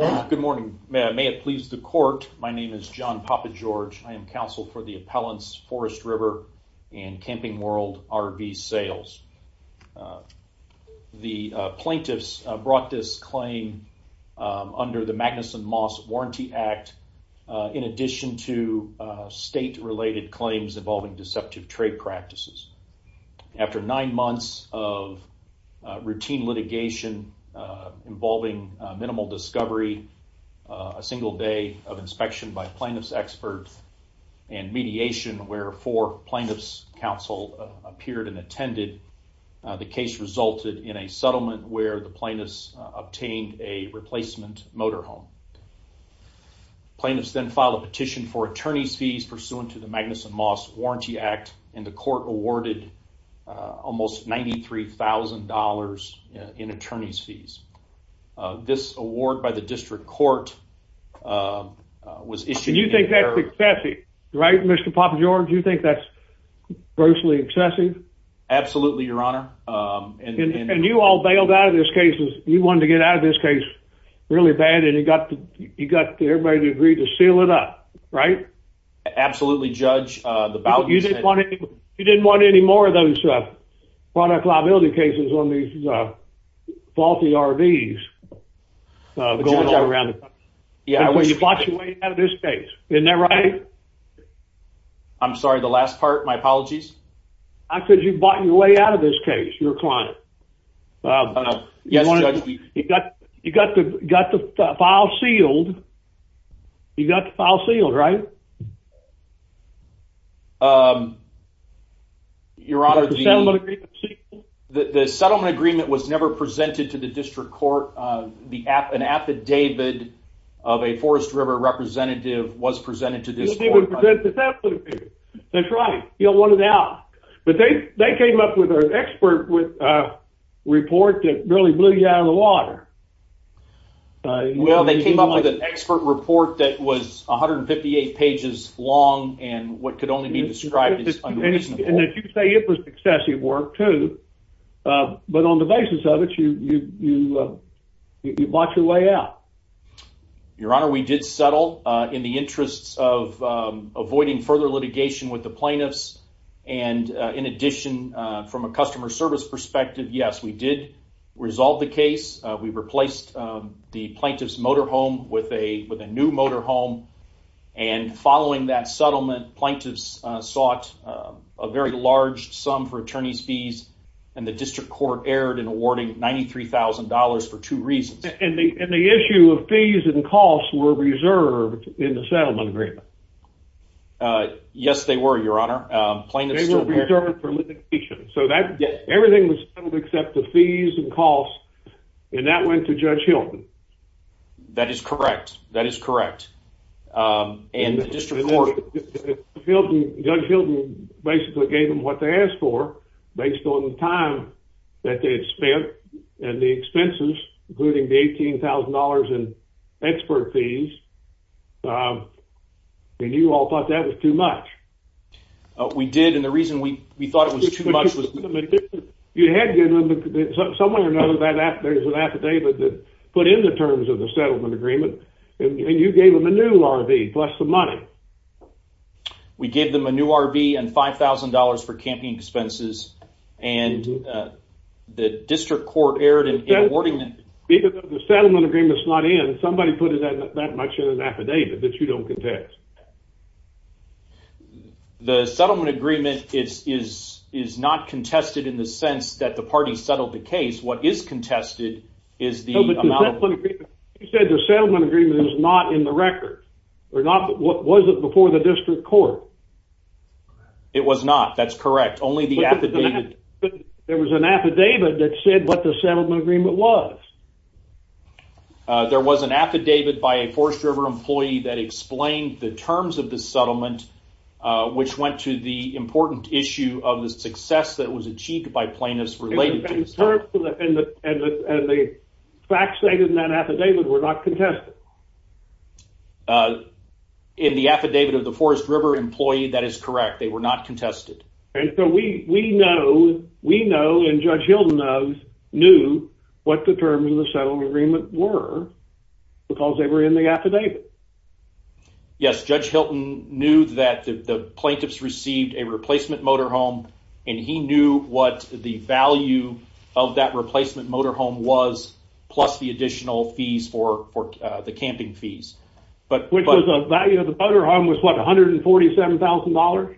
Good morning. May it please the court. My name is John Poppageorge. I am counsel for the appellants Forest River and Camping World RV Sales. The plaintiffs brought this claim under the Magnuson Moss Warranty Act in addition to state-related claims involving deceptive trade practices. After nine months of routine litigation involving minimal discovery, a single day of inspection by plaintiffs' experts, and mediation where four plaintiffs' counsel appeared and attended, the case resulted in a settlement where the plaintiffs obtained a replacement motorhome. Plaintiffs then filed a petition for attorney's fees pursuant to the Magnuson Moss Warranty Act and the court awarded almost $93,000 in attorney's fees. This award by the district court was issued... And you think that's excessive, right, Mr. Poppageorge? You think that's grossly excessive? Absolutely, Your Honor. And you all bailed out of this case. You wanted to get out of this case really bad and you got everybody to agree to seal it up, right? Absolutely, Judge. You didn't want any more of those product liability cases on these faulty RVs going around the country. You bought your way out of this case, isn't that right? I'm sorry, the last part, my apologies? I said you bought your way out of this case, your client. You got the file sealed, right? Your Honor, the settlement agreement was never presented to the district court. An affidavit of a Forest River representative was presented to the district court. That's right, you don't want it out. But they came up with an expert report that really blew you out of the water. Well, they came up with an expert report that was 158 pages long and what could only be described as unreasonable. And you say it was excessive work, too. But on the basis of it, you bought your way out. Your Honor, we did settle in the interests of avoiding further litigation with the plaintiffs. And in addition, from a customer service perspective, yes, we did resolve the case. We replaced the plaintiff's motor home with a new motor home. And following that settlement, plaintiffs sought a very large sum for attorney's fees and the district court erred in awarding $93,000 for two reasons. And the issue of fees and costs were reserved in the settlement agreement. Yes, they were, your Honor. They were reserved for litigation. So everything was settled except the fees and costs. And that went to Judge Hilton. That is correct. That is correct. And the district court... Judge Hilton basically gave them what they asked for based on the time that they had spent and the expenses, including the $18,000 in expert fees. And you all thought that was too much. We did. And the reason we thought it was too much was... You had given them... Somewhere or another, there's an affidavit that put in the terms of the settlement agreement. And you gave them a new RV plus the money. We gave them a new RV and $5,000 for camping expenses. And the district court erred in awarding them... Even though the settlement agreement's not in, somebody put in that much in an affidavit that you don't contest. The settlement agreement is not contested in the sense that the party settled the case. What is contested is the amount... No, but the settlement agreement... You said the settlement agreement is not in the record. Or was it before the district court? It was not. That's correct. Only the affidavit... There was an affidavit that said what the settlement agreement was. There was an affidavit by a Forest River employee that explained the terms of the settlement, which went to the important issue of the success that was achieved by plaintiffs related to this. In terms of the... And the facts stated in that affidavit were not contested. In the affidavit of the Forest River employee, that is correct. They were not contested. And so we know, and Judge Hilton knows, knew what the terms of the settlement agreement were because they were in the affidavit. Yes, Judge Hilton knew that the plaintiffs received a replacement motorhome, and he knew what the value of that replacement motorhome was, plus the additional fees for the camping fees. Which was the value of the motorhome was, what, $147,000?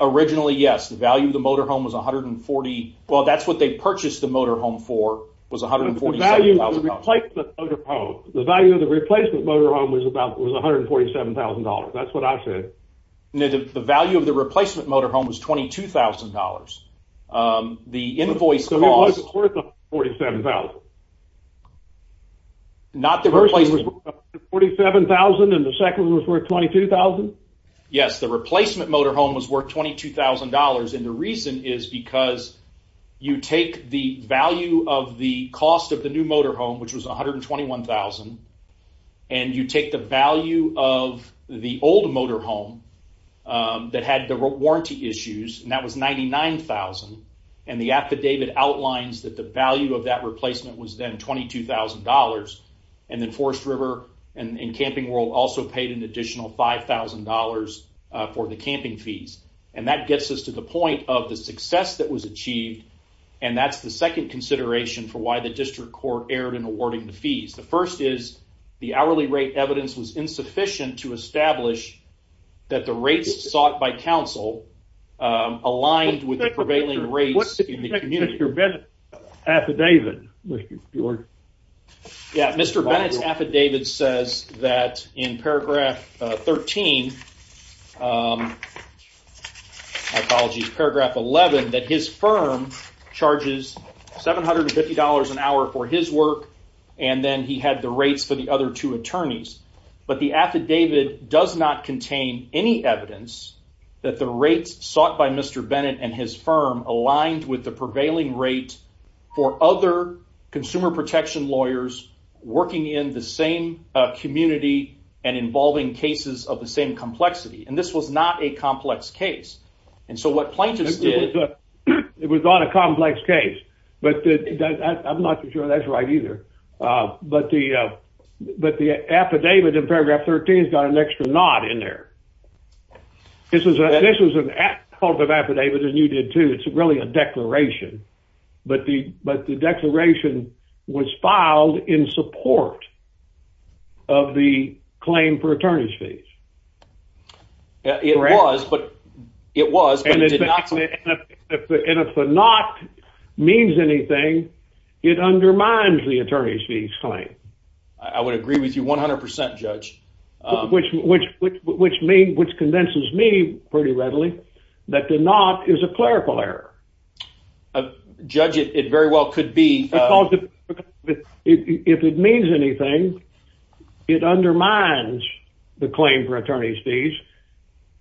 Originally, yes. The value of the motorhome was $147,000. Well, that's what they purchased the motorhome for, was $147,000. The value of the replacement motorhome was $147,000. That's what I said. No, the value of the replacement motorhome was $22,000. The invoice cost... The first one was $147,000, and the second one was worth $22,000? Yes, the replacement motorhome was worth $22,000, and the reason is because you take the value of the cost of the new motorhome, which was $121,000, and you take the value of the old motorhome that had the warranty issues, and that was $99,000, and the affidavit outlines that the value of that replacement was then $22,000, and then Forest River and Camping World also paid an additional $5,000 for the camping fees, and that gets us to the point of the success that was achieved, and that's the second consideration for why the district court erred in awarding the fees. The first is the hourly rate evidence was insufficient to establish that the rates sought by council aligned with the prevailing rates in the community. Mr. Bennett's affidavit, Mr. George. Yeah, Mr. Bennett's affidavit says that in paragraph 13... Apologies, paragraph 11, that his firm charges $750 an hour for his work, and then he had the rates for the other two attorneys, but the affidavit does not contain any evidence that the rates sought by Mr. Bennett and his firm aligned with the prevailing rate for other consumer protection lawyers working in the same community and involving cases of the same complexity, and this was not a complex case, and so what plaintiffs did... It was not a complex case, but I'm not sure that's right either, but the affidavit in this case, this was an affidavit, as you did too, it's really a declaration, but the declaration was filed in support of the claim for attorney's fees. It was, but it did not... And if a not means anything, it undermines the attorney's fees claim. I would agree with you 100%, Judge. Which convinces me pretty readily that the not is a clerical error. Judge, it very well could be. If it means anything, it undermines the claim for attorney's fees,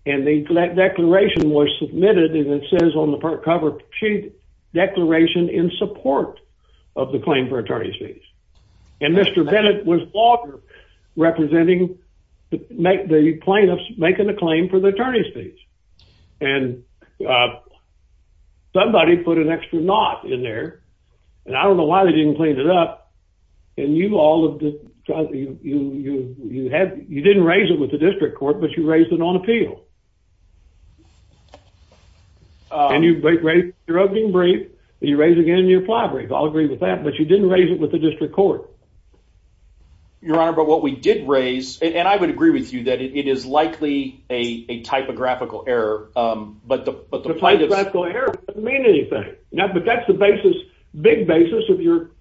and the declaration was submitted, and it says on the cover sheet, declaration in support of the claim for attorney's fees, and Mr. Bennett was longer representing the plaintiffs making the claim for the attorney's fees, and somebody put an extra not in there, and I don't know why they didn't clean it up, and you all of the... You didn't raise it with the district court, but you raised it on appeal, and you raised your opening brief, and you raised it again in your fly brief. I'll agree with that, but you didn't raise it with the district court. Your Honor, but what we did raise, and I would agree with you that it is likely a typographical error, but the plaintiff's... A typographical error doesn't mean anything, but that's the basis, big basis of your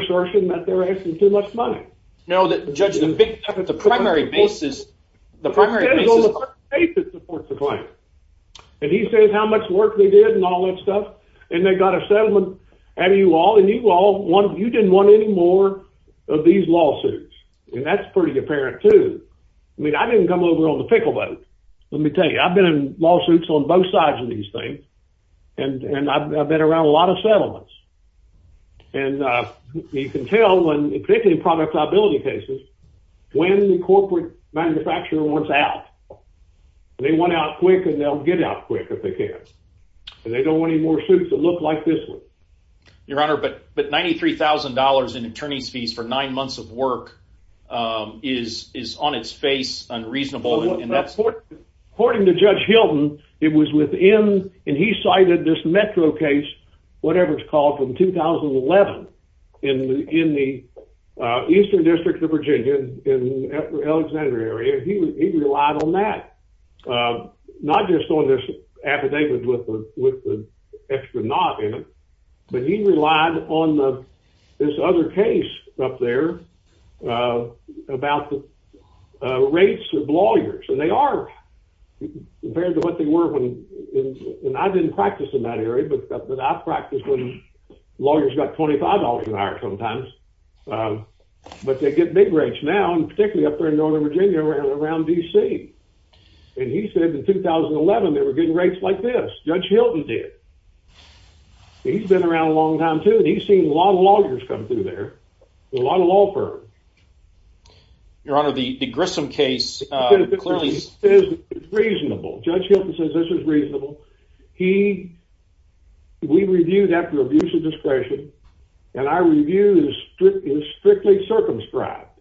assertion that they're asking too much money. No, Judge, the primary basis... The primary basis... It says on the front page it supports the claim, and he says how much work they did, and they got a settlement out of you all, and you didn't want any more of these lawsuits, and that's pretty apparent too. I didn't come over on the pickle boat, let me tell you. I've been in lawsuits on both sides of these things, and I've been around a lot of settlements, and you can tell when, particularly in product liability cases, when the corporate manufacturer wants out. They want out quick, and they'll get out quick if they can, and they don't want any more suits that look like this one. Your Honor, but $93,000 in attorney's fees for nine months of work is on its face unreasonable. According to Judge Hilton, it was within... And he cited this Metro case, whatever it's called, from 2011 in the Eastern District of Virginia in the Alexandria area. He relied on that, not just on this affidavit with the extra naught in it, but he relied on this other case up there about the rates of lawyers, and they are compared to what they were when... I didn't practice in that area, but I practiced when lawyers got $25 an hour sometimes, but they get big rates now, and particularly up there in Northern Virginia and around D.C., and he said in 2011, they were getting rates like this. Judge Hilton did. He's been around a long time, too, and he's seen a lot of lawyers come through there, a lot of law firms. Your Honor, the Grissom case clearly... Judge Hilton says this is reasonable. He... We review that for abuse of discretion, and our review is strictly circumscribed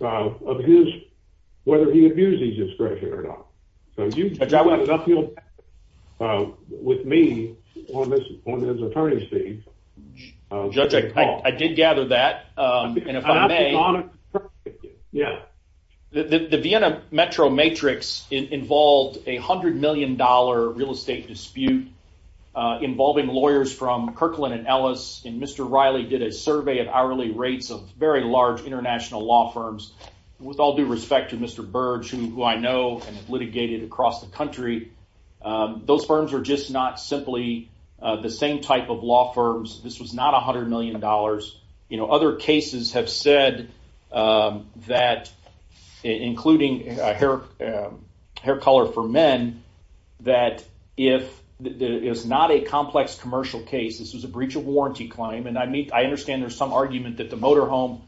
of his... Whether he abused his discretion or not. So if you... With me on his attorney's team... Judge, I did gather that, and if I may... Yeah. The Vienna Metro Matrix involved a $100 million real estate dispute involving lawyers from Kirkland and Ellis, and Mr. Riley did a survey at hourly rates of very large international law firms. With all due respect to Mr. Burge, who I know and have litigated across the country, those firms are just not simply the same type of law firms. This was not $100 million. You know, other cases have said that... Including Hair Color for Men, that if... It was not a complex commercial case. This was a breach of warranty claim, and I understand there's some argument that the motorhome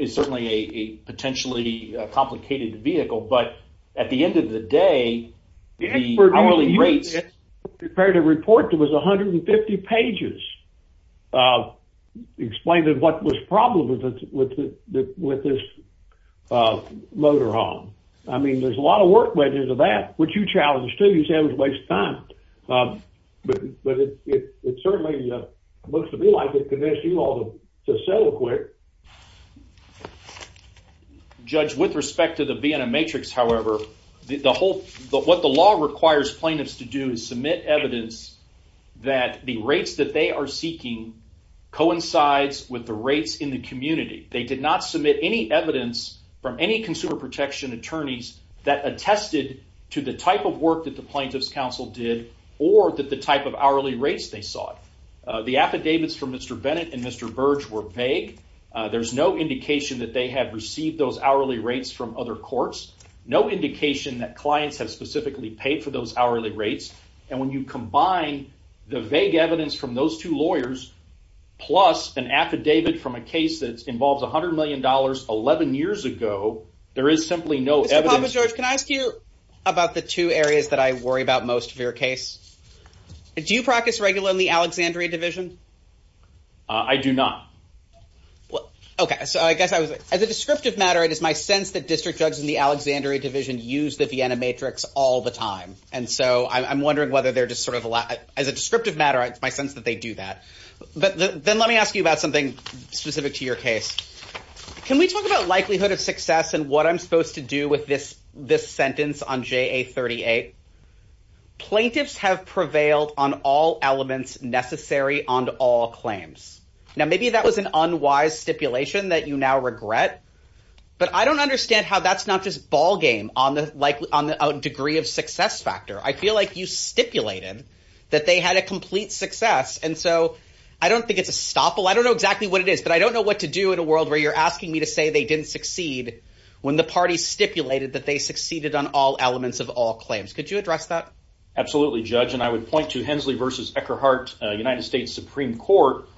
is certainly a potentially complicated vehicle, but at the end of the day, the hourly pages explain what was the problem with this motorhome. I mean, there's a lot of work went into that, which you challenged, too. You said it was a waste of time, but it certainly looks to me like it convinced you all to settle quick. Judge, with respect to the Vienna Matrix, however, what the law requires plaintiffs to do is submit evidence that the rates that they are seeking coincides with the rates in the community. They did not submit any evidence from any consumer protection attorneys that attested to the type of work that the plaintiff's counsel did or that the type of hourly rates they sought. The affidavits from Mr. Bennett and Mr. Burge were vague. There's no indication that they have received those hourly rates from other courts, no indication that clients have specifically paid for those hourly rates, and when you combine the vague evidence from those two lawyers plus an affidavit from a case that involves $100 million 11 years ago, there is simply no evidence. Mr. Papa George, can I ask you about the two areas that I worry about most of your case? Do you practice regularly in the Alexandria Division? I do not. Okay, so I guess I was... As a descriptive matter, it is my sense that district judges in the Alexandria Division use the Vienna Matrix all the time. And so I'm wondering whether they're just sort of... As a descriptive matter, it's my sense that they do that. But then let me ask you about something specific to your case. Can we talk about likelihood of success and what I'm supposed to do with this sentence on JA 38? Plaintiffs have prevailed on all elements necessary on all claims. Now, maybe that was an unwise stipulation that you now regret, but I don't understand how that's not just ballgame on the degree of success factor. I feel like you stipulated that they had a complete success. And so I don't think it's a stopple. I don't know exactly what it is, but I don't know what to do in a world where you're asking me to say they didn't succeed when the party stipulated that they succeeded on all elements of all claims. Could you address that? Absolutely, Judge. And I would point to Hensley v. Eckerhart, United States Supreme Court,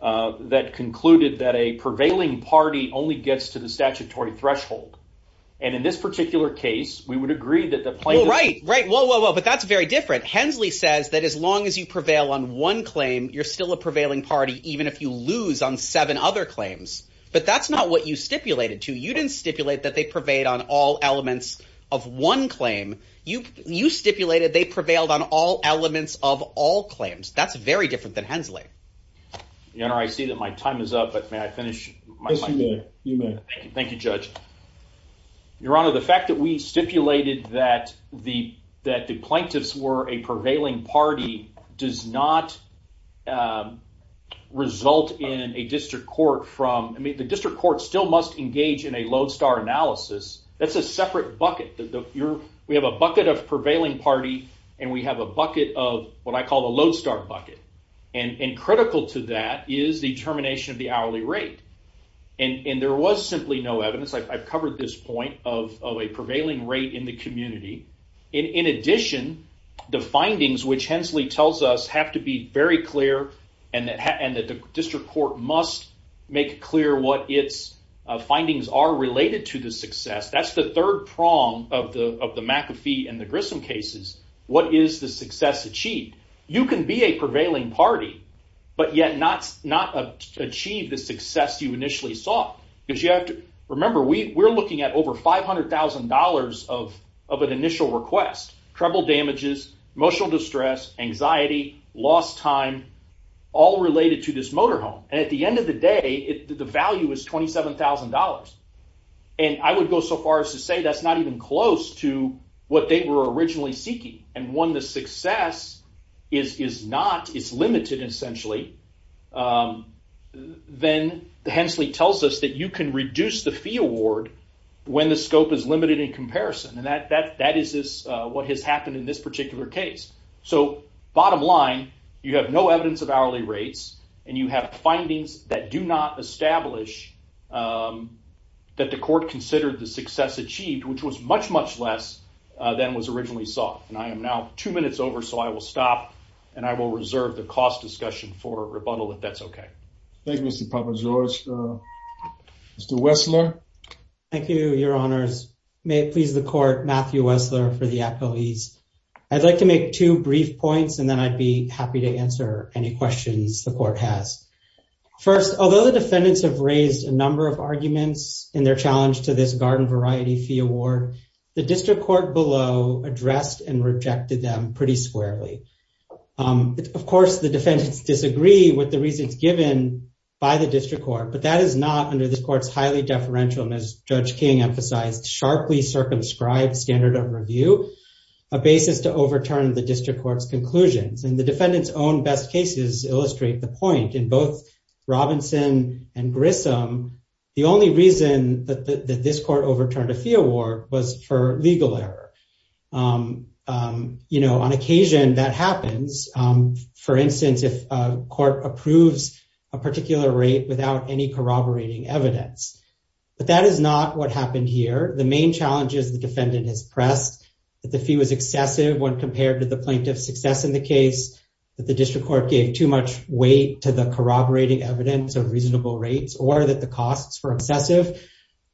that concluded that a prevailing party only gets to the statutory threshold. And in this particular case, we would agree that the plaintiff- Well, right, right. Whoa, whoa, whoa. But that's very different. Hensley says that as long as you prevail on one claim, you're still a prevailing party, even if you lose on seven other claims. But that's not what you stipulated, too. You didn't stipulate that they prevailed on all elements of one claim. You stipulated they prevailed on all elements of all claims. That's very different than Hensley. Your Honor, I see that my time is up. But may I finish my- Yes, you may. You may. Thank you, Judge. Your Honor, the fact that we stipulated that the plaintiffs were a prevailing party does not result in a district court from- I mean, the district court still must engage in a lodestar analysis. That's a separate bucket. We have a bucket of prevailing party, and we have a bucket of what I call the lodestar bucket. And critical to that is the termination of the hourly rate. And there was simply no evidence. I've covered this point of a prevailing rate in the community. In addition, the findings, which Hensley tells us, have to be very clear, and the district court must make clear what its findings are related to the success. That's the third prong of the McAfee and the Grissom cases. What is the success achieved? You can be a prevailing party, but yet not achieve the success you initially sought. Remember, we're looking at over $500,000 of an initial request. Treble damages, emotional distress, anxiety, lost time, all related to this motorhome. And at the end of the day, the value is $27,000. And I would go so far as to say that's not even close to what they were originally seeking and when the success is not, it's limited essentially, then Hensley tells us that you can reduce the fee award when the scope is limited in comparison. And that is what has happened in this particular case. So bottom line, you have no evidence of hourly rates, and you have findings that do not establish that the court considered the success achieved, which was much, much less than was originally sought. And I am now two minutes over, so I will stop, and I will reserve the cost discussion for rebuttal if that's okay. Thank you, Mr. Provenzales. Mr. Wessler. Thank you, your honors. May it please the court, Matthew Wessler for the accolades. I'd like to make two brief points, and then I'd be happy to answer any questions the court has. First, although the defendants have raised a number of arguments in their challenge to this garden variety fee award, the district court below addressed and rejected them pretty squarely. Of course, the defendants disagree with the reasons given by the district court, but that is not under this court's highly deferential, and as Judge King emphasized, sharply circumscribed standard of review, a basis to overturn the district court's conclusions. And the defendants' own best cases illustrate the point. In both Robinson and Grissom, the only reason that this court overturned a fee award was for legal error. You know, on occasion that happens. For instance, if a court approves a particular rate without any corroborating evidence. But that is not what happened here. The main challenge is the defendant has pressed that the fee was excessive when compared to the plaintiff's success in the case, that the district court gave too much weight to the corroborating evidence of reasonable rates, or that the costs were excessive.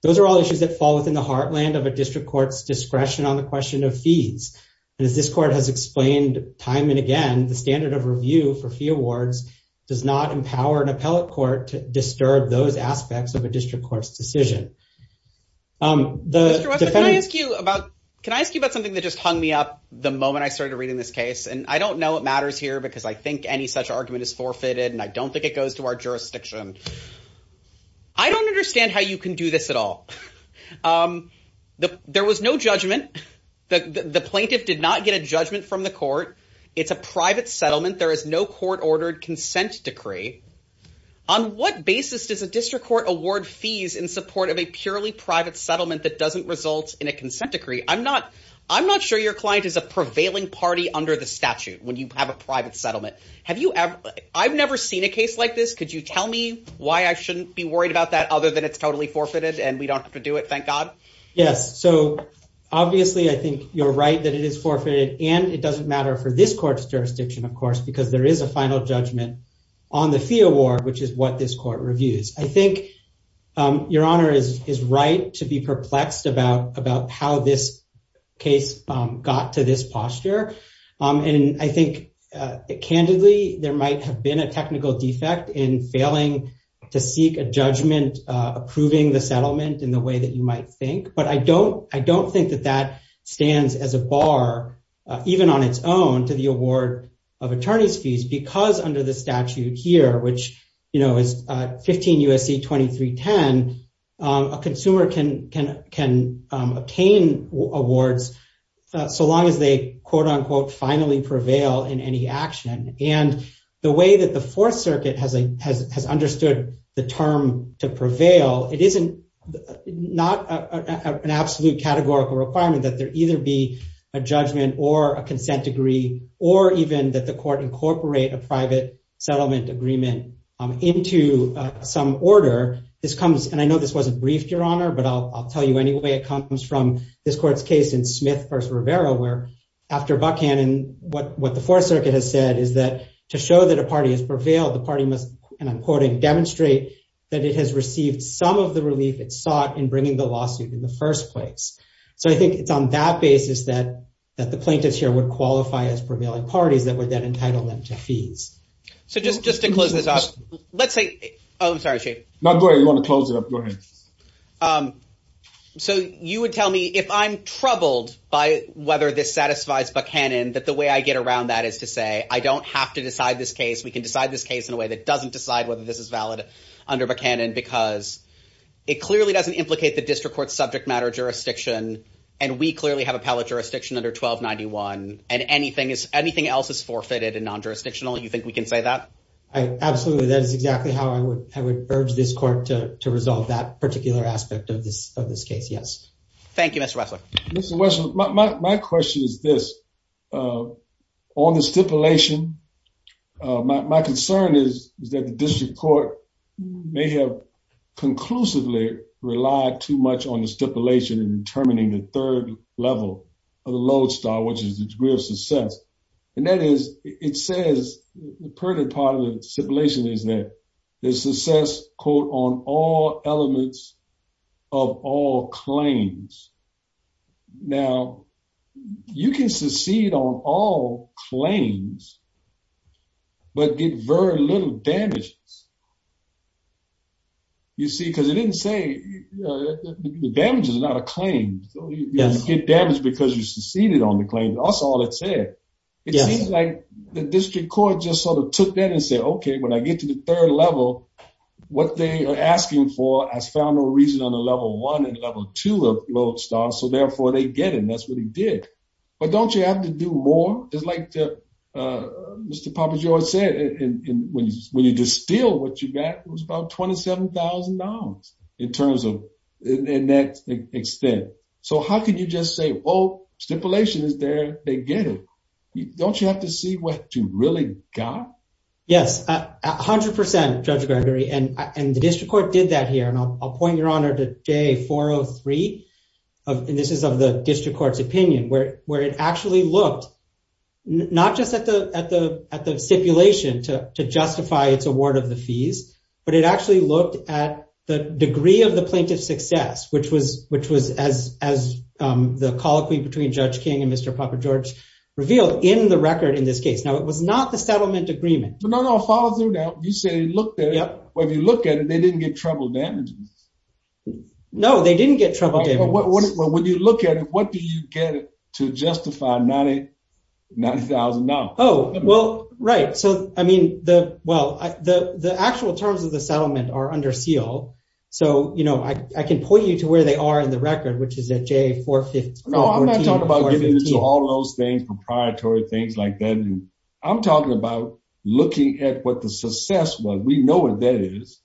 Those are all issues that fall within the heartland of a district court's discretion on the question of fees. And as this court has explained time and again, the standard of review for fee awards does not empower an appellate court to disturb those aspects of a district court's decision. Mr. Wessler, can I ask you about something that just hung me up the moment I started reading this case? And I don't know what matters here, because I think any such argument is forfeited, and I don't think it goes to our jurisdiction. I don't understand how you can do this at all. There was no judgment. The plaintiff did not get a judgment from the court. It's a private settlement. There is no court-ordered consent decree. On what basis does a district court award fees in support of a purely private settlement that doesn't result in a consent decree? I'm not sure your client is a prevailing party under the statute when you have a private settlement. Have you ever, I've never seen a case like this. Could you tell me why I shouldn't be worried about that other than it's totally forfeited and we don't have to do it? Thank God. Yes. So obviously, I think you're right that it is forfeited. And it doesn't matter for this court's jurisdiction, of course, because there is a final judgment on the fee award, which is what this court reviews. I think your honor is right to be perplexed about how this case got to this posture. And I think, candidly, there might have been a technical defect in failing to seek a judgment approving the settlement in the way that you might think. But I don't think that that stands as a bar, even on its own, to the award of attorney's fees. Because under the statute here, which is 15 U.S.C. 2310, a consumer can obtain awards so long as they quote unquote finally prevail in any action. And the way that the Fourth Circuit has understood the term to prevail, it isn't not an absolute categorical requirement that there either be a judgment or a consent degree or even that the court incorporate a private settlement agreement into some order. This comes, and I know this wasn't briefed, your honor, but I'll tell you anyway, it comes from this court's case in Smith v. Rivera, where after Buchanan, what the Fourth Circuit has said to show that a party has prevailed, the party must, and I'm quoting, demonstrate that it has received some of the relief it sought in bringing the lawsuit in the first place. So I think it's on that basis that the plaintiffs here would qualify as prevailing parties that would then entitle them to fees. So just to close this off, let's say, oh, I'm sorry, Chief. No, go ahead, you wanna close it up, go ahead. So you would tell me if I'm troubled by whether this satisfies Buchanan, that the way I get around that is to say, I don't have to decide this case. We can decide this case in a way that doesn't decide whether this is valid under Buchanan because it clearly doesn't implicate the district court's subject matter jurisdiction, and we clearly have appellate jurisdiction under 1291, and anything else is forfeited and non-jurisdictional. You think we can say that? I absolutely, that is exactly how I would urge this court to resolve that particular aspect of this case, yes. Thank you, Mr. Wessler. Mr. Wessler, my question is this. On the stipulation, my concern is that the district court may have conclusively relied too much on the stipulation in determining the third level of the lodestar, which is the degree of success. And that is, it says, the pertinent part of the stipulation is that the success, quote, on all elements of all claims. Now, you can succeed on all claims, but get very little damages. You see, because it didn't say, the damages are not a claim. You don't get damage because you succeeded on the claim. That's all it said. It seems like the district court just sort of took that and said, okay, when I get to the third level, what they are asking for has found no reason on the level one and level two of lodestar, so therefore they get it. And that's what he did. But don't you have to do more? It's like Mr. Pappajoy said, when you distill what you got, it was about $27,000 in that extent. So how can you just say, oh, stipulation is there, they get it. Don't you have to see what you really got? Yes, 100%, Judge Gregory. And the district court did that here. I'll point your honor to day 403. This is of the district court's opinion where it actually looked, not just at the stipulation to justify its award of the fees, but it actually looked at the degree of the plaintiff's success, which was as the colloquy between Judge King and Mr. Pappajoy revealed in the record in this case. Now it was not the settlement agreement. But no, no, I'll follow through now. You said he looked at it. Well, if you look at it, they didn't get trouble damages. No, they didn't get trouble damages. Well, when you look at it, what do you get to justify $90,000? Oh, well, right. So I mean, well, the actual terms of the settlement are under seal. So I can point you to where they are in the record, which is at J415. No, I'm not talking about giving it to all those things, proprietary things like that. And I'm talking about looking at what the success was. We know what that is.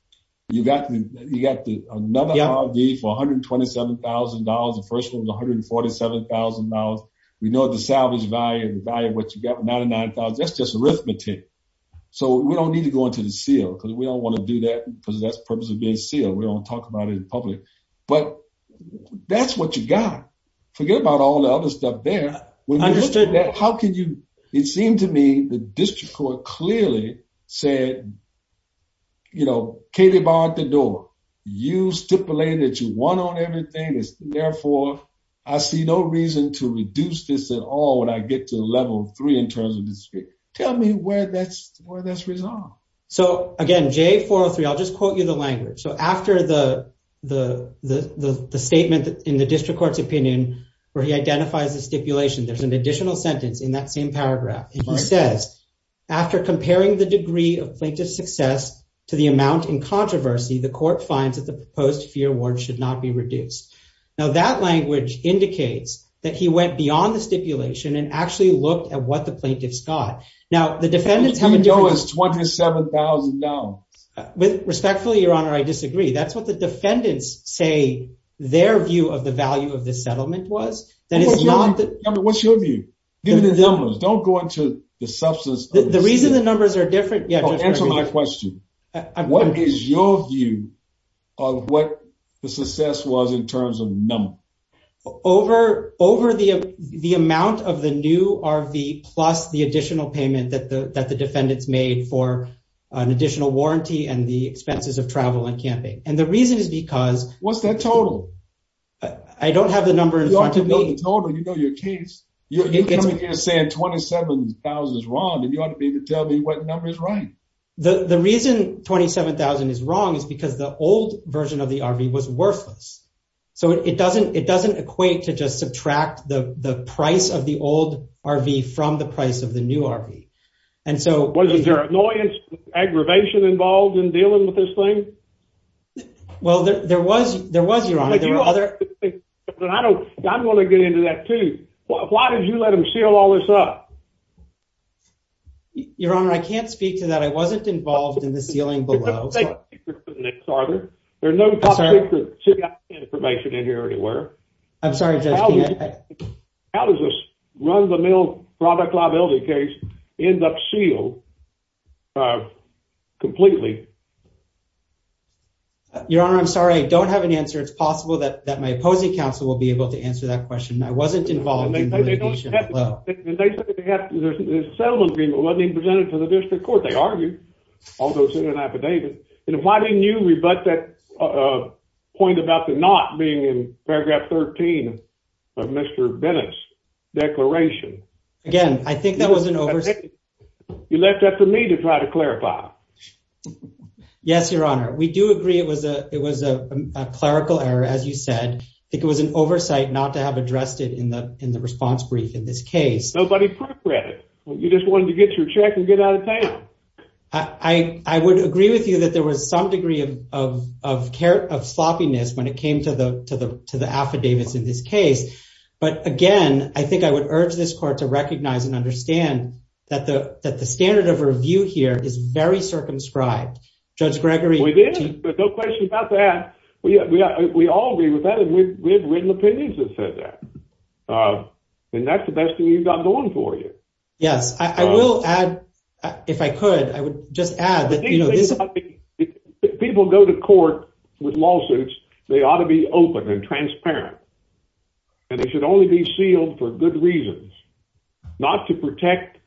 You got another RV for $127,000. The first one was $147,000. We know the salvage value, the value of what you got, $99,000. That's just arithmetic. So we don't need to go into the seal because we don't want to do that because that's the purpose of being sealed. We don't talk about it in public. But that's what you got. Forget about all the other stuff there. It seemed to me the district court clearly said, you know, Katie barred the door. You stipulated you won on everything. Therefore, I see no reason to reduce this at all when I get to level three in terms of this. Tell me where that's resolved. So again, J403, I'll just quote you the language. So after the statement in the district court's opinion, where he identifies the stipulation, there's an additional sentence in that same paragraph. And he says, after comparing the degree of plaintiff success to the amount in controversy, the court finds that the proposed fee award should not be reduced. Now that language indicates that he went beyond the stipulation and actually looked at what the plaintiffs got. Now the defendants have a different- $27,000. Respectfully, your honor, I disagree. That's what the defendants say their view of the value of this settlement was. What's your view? Give me the numbers. Don't go into the substance- The reason the numbers are different- Yeah, just answer my question. What is your view of what the success was in terms of number? Over the amount of the new RV plus the additional payment that the defendants made for an additional warranty and the expenses of travel and camping. And the reason is because- What's that total? I don't have the number in front of me. You don't have the total, you know your case. You're coming here saying $27,000 is wrong and you ought to be able to tell me what number is right. The reason $27,000 is wrong is because the old version of the RV was worthless. So it doesn't equate to just subtract the price of the old RV from the price of the new RV. And so- Was there annoyance, aggravation involved in dealing with this thing? Well, there was, your honor. There were other- But I don't want to get into that too. Why did you let him seal all this up? Your honor, I can't speak to that. I wasn't involved in the sealing below. There's no information in here anywhere. I'm sorry. How does this run the mill product liability case end up sealed completely? Your honor, I'm sorry. I don't have an answer. It's possible that my opposing counsel will be able to answer that question. I wasn't involved in the litigation below. And they said that the settlement agreement wasn't even presented to the district court. They argued, although it's in an affidavit. And why didn't you rebut that point about the not being in paragraph 13 of Mr. Bennett's declaration? Again, I think that was an oversight. You left that to me to try to clarify. Yes, your honor. We do agree it was a clerical error, as you said. I think it was an oversight not to have addressed it in the response brief in this case. Nobody proofread it. You just wanted to get your check and get out of town. I would agree with you that there was some degree of care of sloppiness when it came to the affidavits in this case. But again, I think I would urge this court to recognize and understand that the standard of review here is very circumscribed. Judge Gregory. We did. No question about that. We all agree with that. We have written opinions that said that. And that's the best thing you've got going for you. Yes, I will add, if I could, I would just add that. People go to court with lawsuits. They ought to be open and transparent. And they should only be sealed for good reasons. Not to protect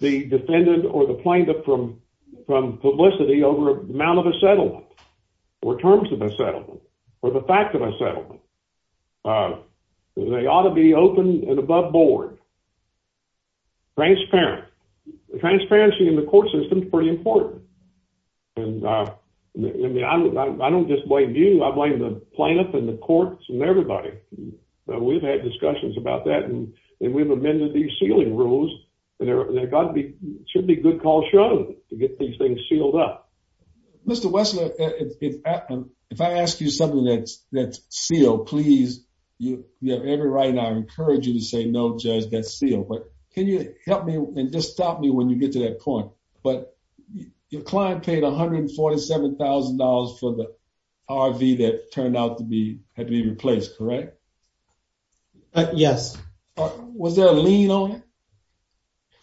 the defendant or the plaintiff from publicity over amount of a settlement or terms of a settlement or the fact of a settlement. But they ought to be open and above board. Transparent. Transparency in the court system is pretty important. And I don't just blame you. I blame the plaintiff and the courts and everybody. We've had discussions about that. And we've amended these sealing rules. And there should be good cause shown to get these things sealed up. Mr. Wessler, if I ask you something that's sealed, you have every right. And I encourage you to say, no, Judge, that's sealed. But can you help me and just stop me when you get to that point? But your client paid $147,000 for the RV that turned out to be had to be replaced, correct? Yes. Was there a lien on it?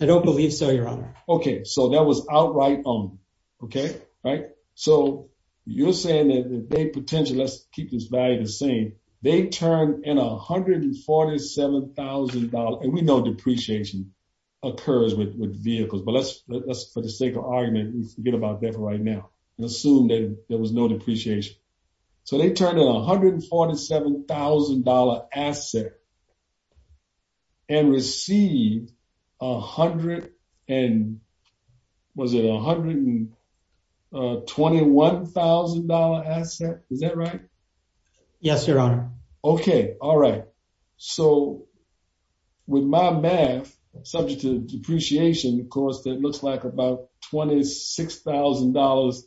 I don't believe so, Your Honor. OK, so that was outright owned. OK, right. So you're saying that they potentially, let's keep this value the same. They turned in $147,000. And we know depreciation occurs with vehicles. But let's, for the sake of argument, forget about that right now and assume that there was no depreciation. So they turned in a $147,000 asset and received 100 and was it $121,000 asset? Is that right? Yes, Your Honor. OK, all right. So with my math, subject to depreciation, of course, that looks like about $26,000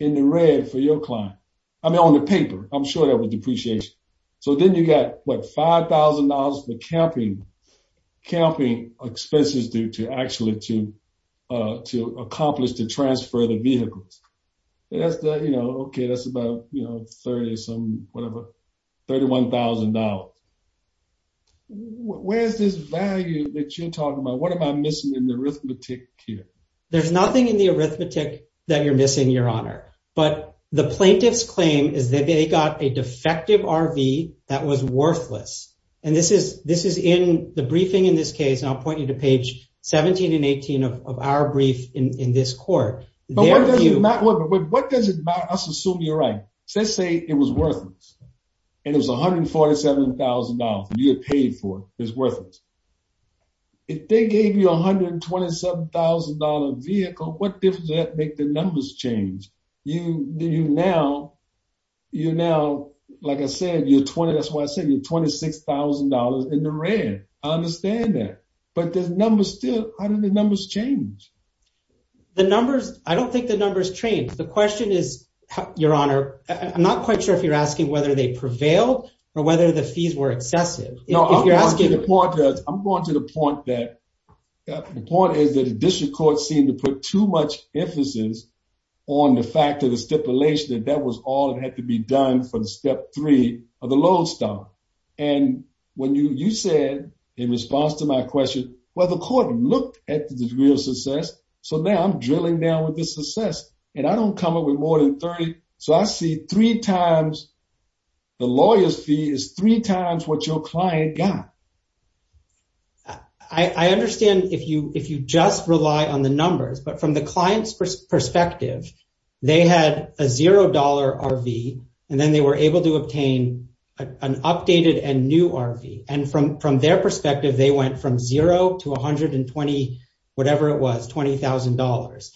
in the red for your client. I mean, on the paper, I'm sure that was depreciation. So then you got, what, $5,000 for camping expenses due to actually to accomplish the transfer of the vehicles. That's the, you know, OK, that's about, you know, 30 or something, whatever, $31,000. Where's this value that you're talking about? What am I missing in the arithmetic here? There's nothing in the arithmetic that you're missing, Your Honor. But the plaintiff's claim is that they got a defective RV that was worthless. And this is in the briefing in this case. And I'll point you to page 17 and 18 of our brief in this court. But what does it matter? Let's assume you're right. So let's say it was worthless. And it was $147,000 that you had paid for. It was worthless. If they gave you a $127,000 vehicle, what difference does that make? The numbers change. You now, like I said, you're 20, that's why I said you're $26,000 in the red. I understand that. But the numbers still, how do the numbers change? The numbers, I don't think the numbers change. The question is, Your Honor, I'm not quite sure if you're asking whether they prevailed or whether the fees were excessive. No, I'm going to the point that the point is that the district court seemed to put too much emphasis on the fact of the stipulation that that was all that had to be done for the step three of the load stop. And when you said, in response to my question, well, the court looked at the degree of success. So now I'm drilling down with the success and I don't come up with more than 30. So I see three times the lawyer's fee is three times what your client got. I understand if you just rely on the numbers, but from the client's perspective, they had a $0 RV and then they were able to obtain an updated and new RV. And from their perspective, they went from zero to 120, whatever it was, $20,000.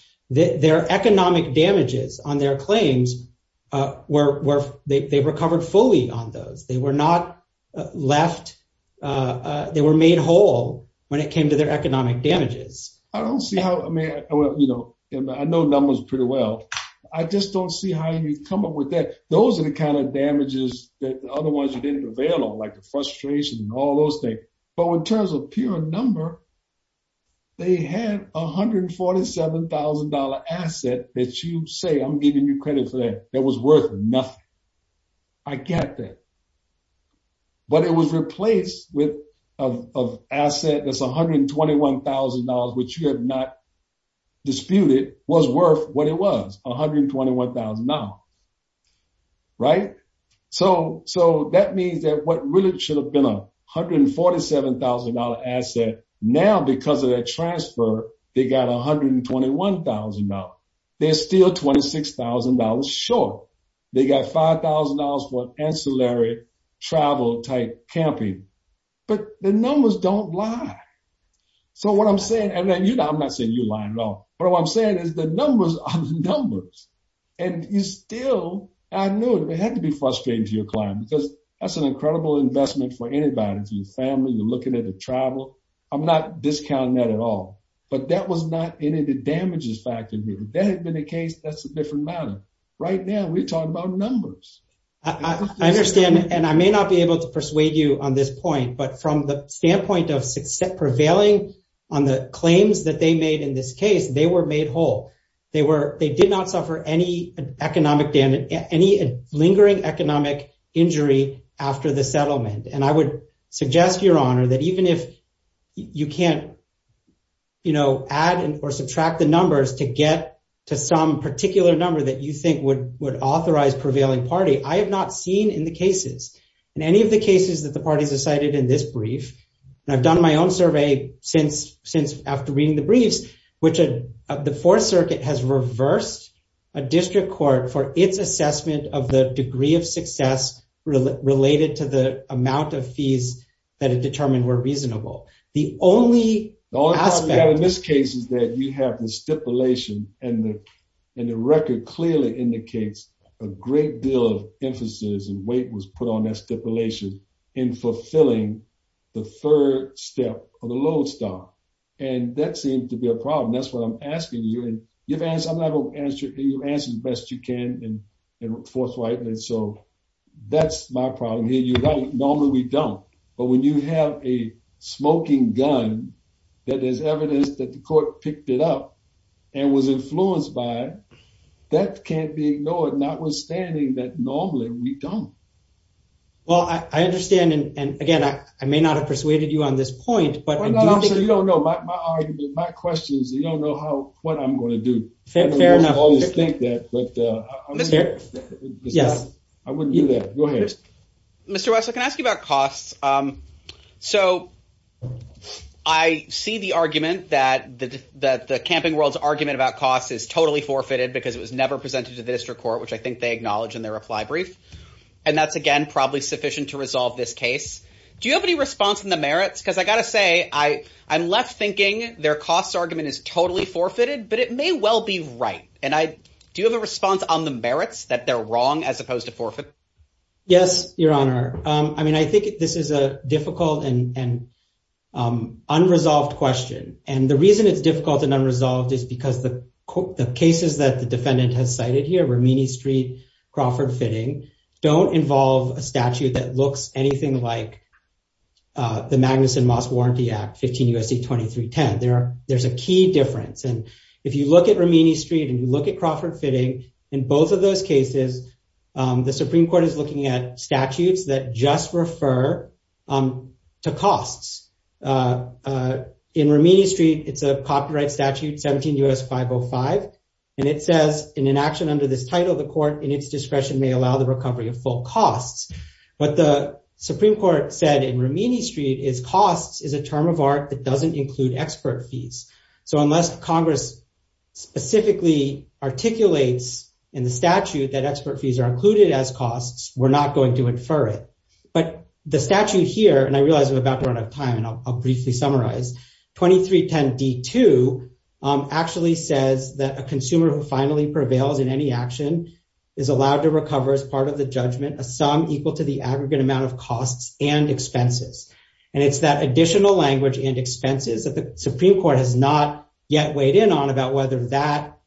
Their economic damages on their claims, they recovered fully on those. They were not left, they were made whole when it came to their economic damages. I don't see how, I mean, I know numbers pretty well. I just don't see how you come up with that. Those are the kinds of damages that the other ones didn't prevail on, like the frustration and all those things. But in terms of pure number, they had $147,000 asset that you say, I'm giving you credit for that, that was worth nothing. I get that. But it was replaced with an asset that's $121,000, which you have not disputed, was worth what it was, $121,000, right? So that means that what really should have been $147,000 asset, now because of that transfer, they got $121,000. They're still $26,000 short. They got $5,000 for ancillary travel type camping. But the numbers don't lie. So what I'm saying, and I'm not saying you're lying at all, but what I'm saying is the numbers are the numbers. And you still, I knew it. It had to be frustrating to your client because that's an incredible investment for anybody. It's your family, you're looking at the travel. I'm not discounting that at all. But that was not any of the damages factor here. If that had been the case, that's a different matter. Right now, we're talking about numbers. I understand. And I may not be able to persuade you on this point, but from the standpoint of prevailing on the claims that they made in this case, they were made whole. They did not suffer any economic damage, any lingering economic injury after the settlement. And I would suggest, Your Honor, that even if you can't add or subtract the numbers to get to some particular number that you think would authorize prevailing party, I have not seen in the cases, in any of the cases that the parties decided in this brief, and I've done my own survey since after reading the briefs, which the Fourth Circuit has reversed a district court for its assessment of the degree of success related to the amount of fees that it determined were reasonable. The only aspect- The only problem we have in this case is that you have the stipulation and the record clearly indicates a great deal of emphasis and weight was put on that stipulation in fulfilling the third step or the low stop. And that seemed to be a problem. That's what I'm asking you. I'm gonna have you answer the best you can in forthrightness. So that's my problem here. Normally we don't. But when you have a smoking gun that there's evidence that the court picked it up and was influenced by, that can't be ignored, notwithstanding that normally we don't. Well, I understand. And again, I may not have persuaded you on this point, but do you think- You don't know. My argument, my question is, you don't know what I'm gonna do. Fair enough. I don't always think that, but I'm scared. Yes. I wouldn't do that. Go ahead. Mr. West, I can ask you about costs. So I see the argument that the Camping World's argument about costs is totally forfeited because it was never presented to the district court, which I think they acknowledge in their reply brief. And that's, again, probably sufficient to resolve this case. Do you have any response in the merits? Because I gotta say, I'm left thinking their costs argument is totally forfeited, but it may well be right. And do you have a response on the merits, that they're wrong as opposed to forfeit? Yes, Your Honor. I mean, I think this is a difficult and unresolved question. And the reason it's difficult and unresolved is because the cases that the defendant has cited here, Romini Street, Crawford Fitting, don't involve a statute that looks anything like the Magnuson Moss Warranty Act 15 U.S.C. 2310. There's a key difference. And if you look at Romini Street and you look at Crawford Fitting, in both of those cases, the Supreme Court is looking at statutes that just refer to costs. In Romini Street, it's a copyright statute, 17 U.S. 505. And it says, in an action under this title, the court in its discretion may allow the recovery of full costs. What the Supreme Court said in Romini Street is costs is a term of art that doesn't include expert fees. So unless Congress specifically articulates in the statute that expert fees are included as costs, we're not going to infer it. But the statute here, and I realize I'm about to run out of time, and I'll briefly summarize, 2310 D2 actually says that a consumer who finally prevails in any action is allowed to recover as part of the judgment a sum equal to the aggregate amount of costs and expenses. And it's that additional language that the Supreme Court has not yet weighed in on about whether that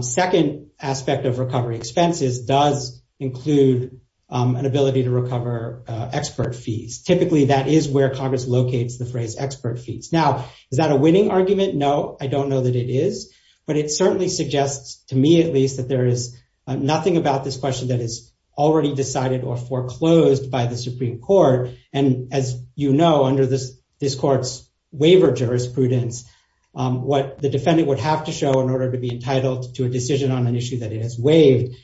second aspect of recovery expenses does include an ability to recover expert fees. Typically, that is where Congress locates the phrase expert fees. Now, is that a winning argument? No, I don't know that it is. But it certainly suggests, to me at least, that there is nothing about this question that is already decided or foreclosed by the Supreme Court. And as you know, this court's waiver jurisprudence, what the defendant would have to show in order to be entitled to a decision on an issue that it has waived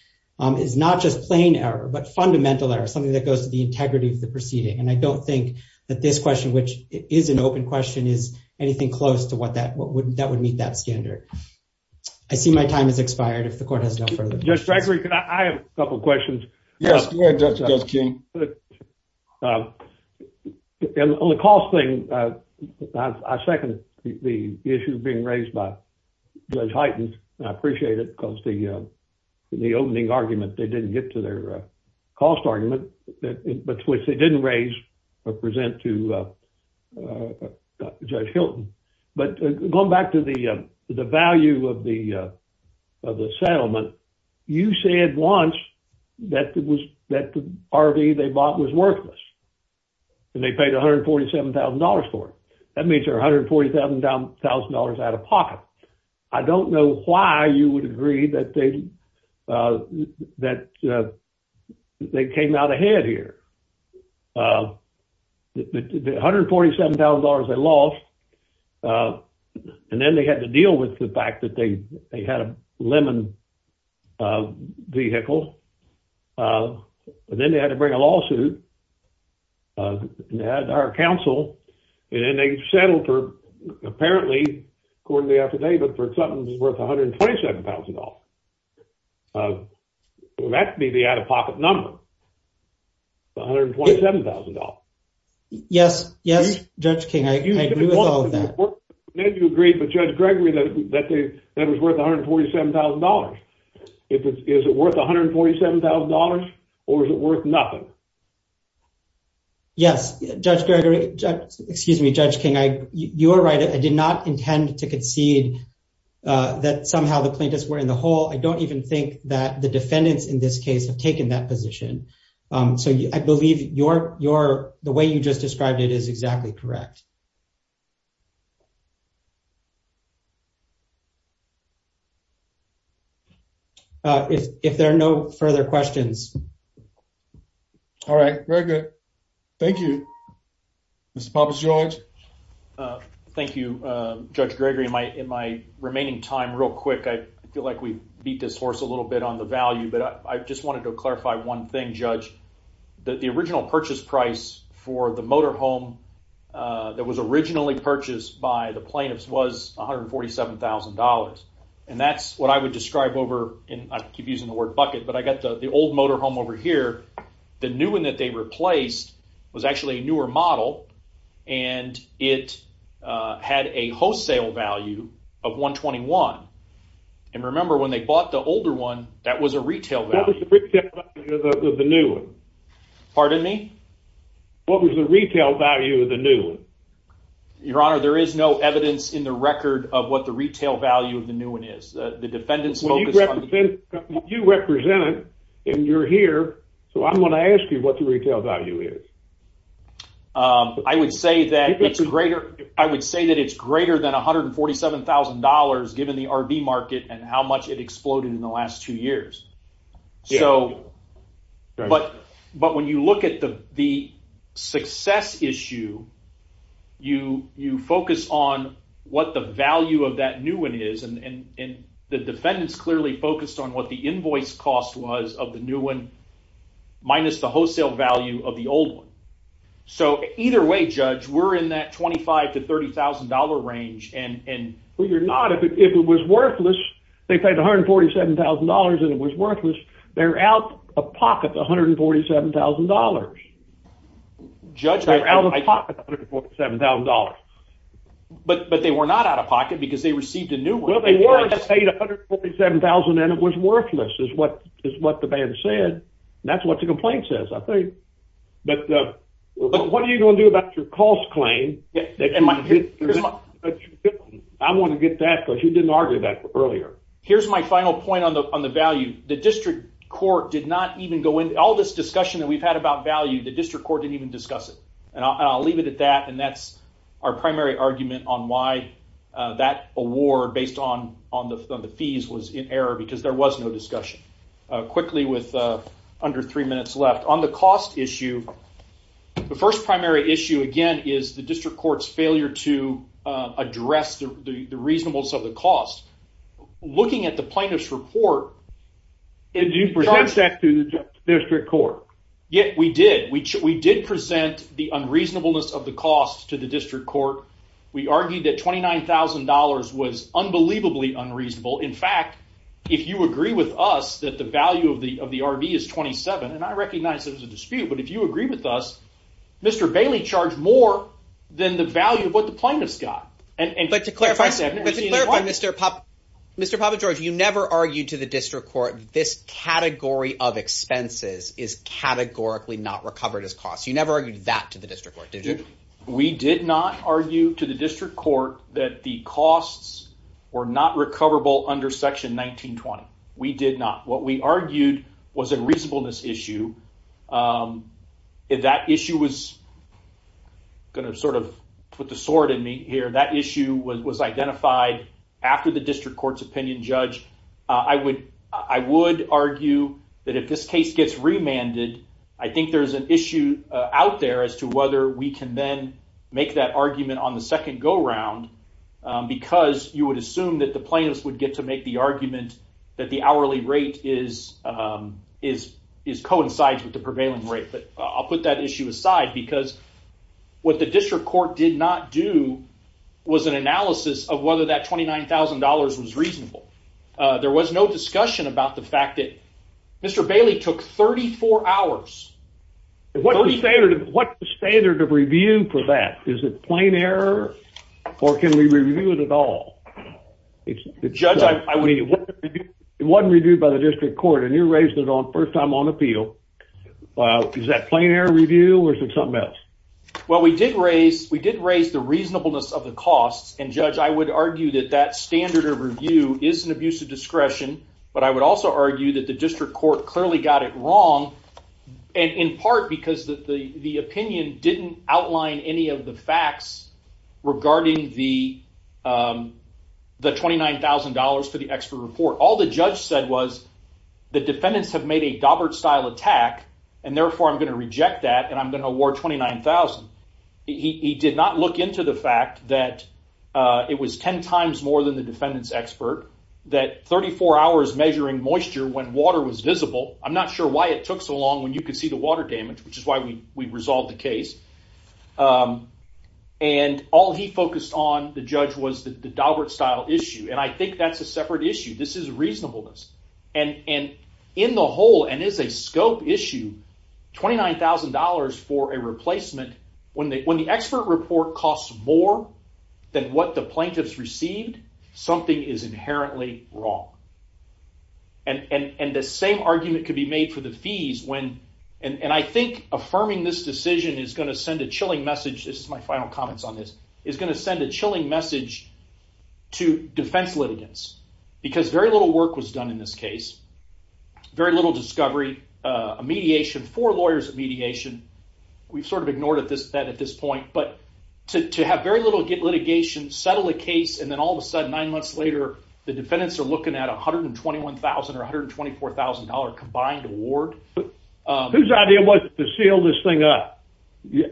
is not just plain error, but fundamental error, something that goes to the integrity of the proceeding. And I don't think that this question, which is an open question, is anything close to what would meet that standard. I see my time has expired if the court has no further questions. Judge Gregory, I have a couple of questions. Yes, Judge King. Well, on the cost thing, I second the issue being raised by Judge Hyten. I appreciate it because the opening argument, they didn't get to their cost argument, but which they didn't raise or present to Judge Hilton. But going back to the value of the settlement, you said once that the RV they bought was worthless and they paid $147,000 for it. That means they're $147,000 out of pocket. I don't know why you would agree that they came out ahead here. The $147,000 they lost and then they had to deal with the fact that they had a lemon vehicle and then they had to bring a lawsuit and they had our counsel and then they settled for, apparently, according to the affidavit, for something that's worth $127,000. That could be the out-of-pocket number, the $127,000. Yes, yes, Judge King, I agree with all of that. Then you agreed with Judge Gregory that it was worth $147,000. Is it worth $147,000 or is it worth nothing? Yes, Judge Gregory, excuse me, Judge King, you're right. I did not intend to concede that somehow the plaintiffs were in the hole. I don't even think that the defendants in this case have taken that position. So I believe the way you just described it is exactly correct. If there are no further questions. All right, very good. Thank you, Mr. Papas-George. Thank you, Judge Gregory. In my remaining time, real quick, I feel like we beat this horse a little bit on the value, but I just wanted to clarify one thing, Judge, that the original purchase price for the motorhome that was originally purchased by the plaintiffs was $147,000. And that's what I would describe over, and I keep using the word bucket, but I got the old motorhome over here. The new one that they replaced was actually a newer model and it had a wholesale value of 121. And remember when they bought the older one, that was a retail value. What was the retail value of the new one? Pardon me? What was the retail value of the new one? Your Honor, there is no evidence in the record of what the retail value of the new one is. The defendants focus on the- Well, you represent it and you're here, so I'm going to ask you what the retail value is. I would say that it's greater than $147,000 given the RV market and how much it exploded in the last two years. But when you look at the success issue, you focus on what the value of that new one is and the defendants clearly focused on what the invoice cost was of the new one minus the wholesale value of the old one. So either way, Judge, we're in that $25,000 to $30,000 range and- Well, you're not. If it was worthless, they paid $147,000 and it was worthless, they're out of pocket the $147,000. But they were not out of pocket because they received a new one. Well, they were and they paid $147,000 and it was worthless is what the band said. That's what the complaint says, I think. But what are you going to do about your cost claim? Yeah, and my- That you didn't get. I'm going to get that because you didn't argue that earlier. Here's my final point on the value. All this discussion that we've had about the value of the RV market the district court didn't even discuss it. And I'll leave it at that. And that's our primary argument on why that award based on the fees was in error because there was no discussion. Quickly with under three minutes left. On the cost issue, the first primary issue, again, is the district court's failure to address the reasonableness of the cost. Looking at the plaintiff's report- And you present that to the district court. Yeah, we did. We did present the unreasonableness of the cost to the district court. We argued that $29,000 was unbelievably unreasonable. In fact, if you agree with us that the value of the RV is 27 and I recognize it as a dispute, but if you agree with us, Mr. Bailey charged more than the value of what the plaintiff's got. And- But to clarify, Mr. Papagiorgi, you never argued to the district court this category of expenses is categorically not recovered as cost. You never argued that to the district court, did you? We did not argue to the district court that the costs were not recoverable under section 19-20. We did not. What we argued was a reasonableness issue. That issue was- I'm going to sort of put the sword in me here. That issue was identified after the district court's opinion judge. I would argue that if this case gets remanded, I think there's an issue out there as to whether we can then make that argument on the second go-round because you would assume that the plaintiffs would get to make the argument that the hourly rate is coincides with the prevailing rate. But I'll put that issue aside because what the district court did not do was an analysis of whether that $29,000 was reasonable. There was no discussion about the fact that Mr. Bailey took 34 hours. What's the standard of review for that? Is it plain error or can we review it at all? It wasn't reviewed by the district court and you raised it on first time on appeal. Is that plain error review or is it something else? Well, we did raise the reasonableness of the costs and judge, I would argue that that standard of review is an abuse of discretion but I would also argue that the district court clearly got it wrong and in part because the opinion didn't outline any of the facts regarding the $29,000 for the expert report. All the judge said was the defendants have made a Daubert style attack and therefore I'm gonna reject that and I'm gonna award 29,000. He did not look into the fact that it was 10 times more than the defendant's expert, that 34 hours measuring moisture when water was visible. I'm not sure why it took so long when you could see the water damage which is why we resolved the case and all he focused on the judge was the Daubert style issue and I think that's a separate issue. This is reasonableness and in the whole and is a scope issue, $29,000 for a replacement when the expert report costs more than what the plaintiffs received, something is inherently wrong and the same argument could be made for the fees when and I think affirming this decision is gonna send a chilling message, this is my final comments on this, is gonna send a chilling message to defense litigants because very little work was done in this case, very little discovery, a mediation, four lawyers at mediation, we've sort of ignored that at this point but to have very little litigation, settle the case and then all of a sudden nine months later, the defendants are looking at $121,000 or $124,000 combined award. But whose idea was it to seal this thing up?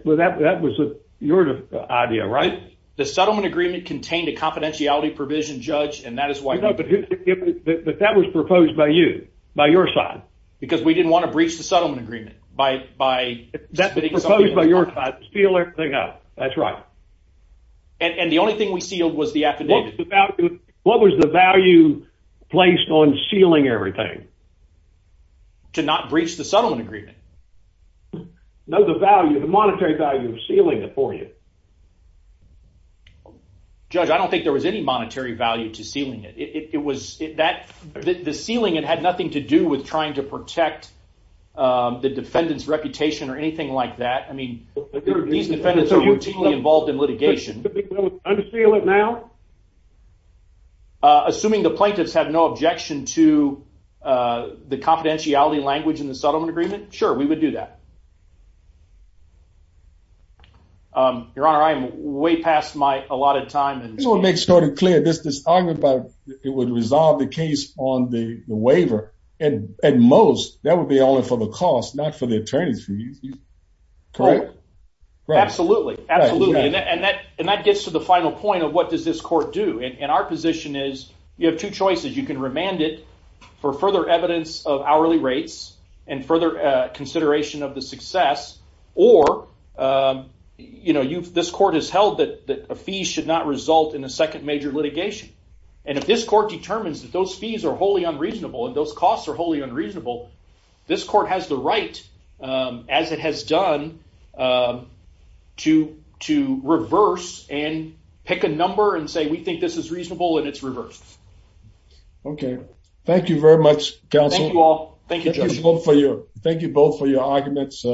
Well, that was your idea, right? The settlement agreement contained a confidentiality provision judge and that is why... No, but that was proposed by you, by your side. Because we didn't want to breach the settlement agreement by... That was proposed by your side to seal everything up, that's right. And the only thing we sealed was the affidavit. What was the value placed on sealing everything? To not breach the settlement agreement. No, the value, the monetary value of sealing it for you. Judge, I don't think there was any monetary value to sealing it. It was that the sealing, it had nothing to do with trying to protect the defendant's reputation or anything like that. I mean, these defendants are routinely involved in litigation. Could we unseal it now? Assuming the plaintiffs have no objection to the confidentiality language in the settlement agreement, sure, we would do that. Your Honor, I am way past my allotted time. I just want to make it sort of clear, this argument about it would resolve the case on the waiver. And at most, that would be only for the cost, not for the attorneys. Correct? Absolutely, absolutely. And that gets to the final point of what does this court do? And our position is, you have two choices. You can remand it for further evidence of hourly rates and further consideration of the success, or this court has held that a fee should not result in a second major litigation. And if this court determines that those fees are wholly unreasonable and those costs are wholly unreasonable, this court has the right, as it has done, to reverse and pick a number and say, we think this is reasonable and it's reversed. Okay. Thank you very much, counsel. Thank you all. Thank you, Judge. Thank you both for your arguments.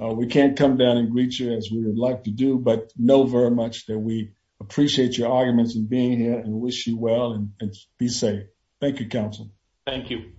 We can't come down and greet you as we would like to do, but know very much that we appreciate your arguments and being here and wish you well and be safe. Thank you, counsel. Thank you.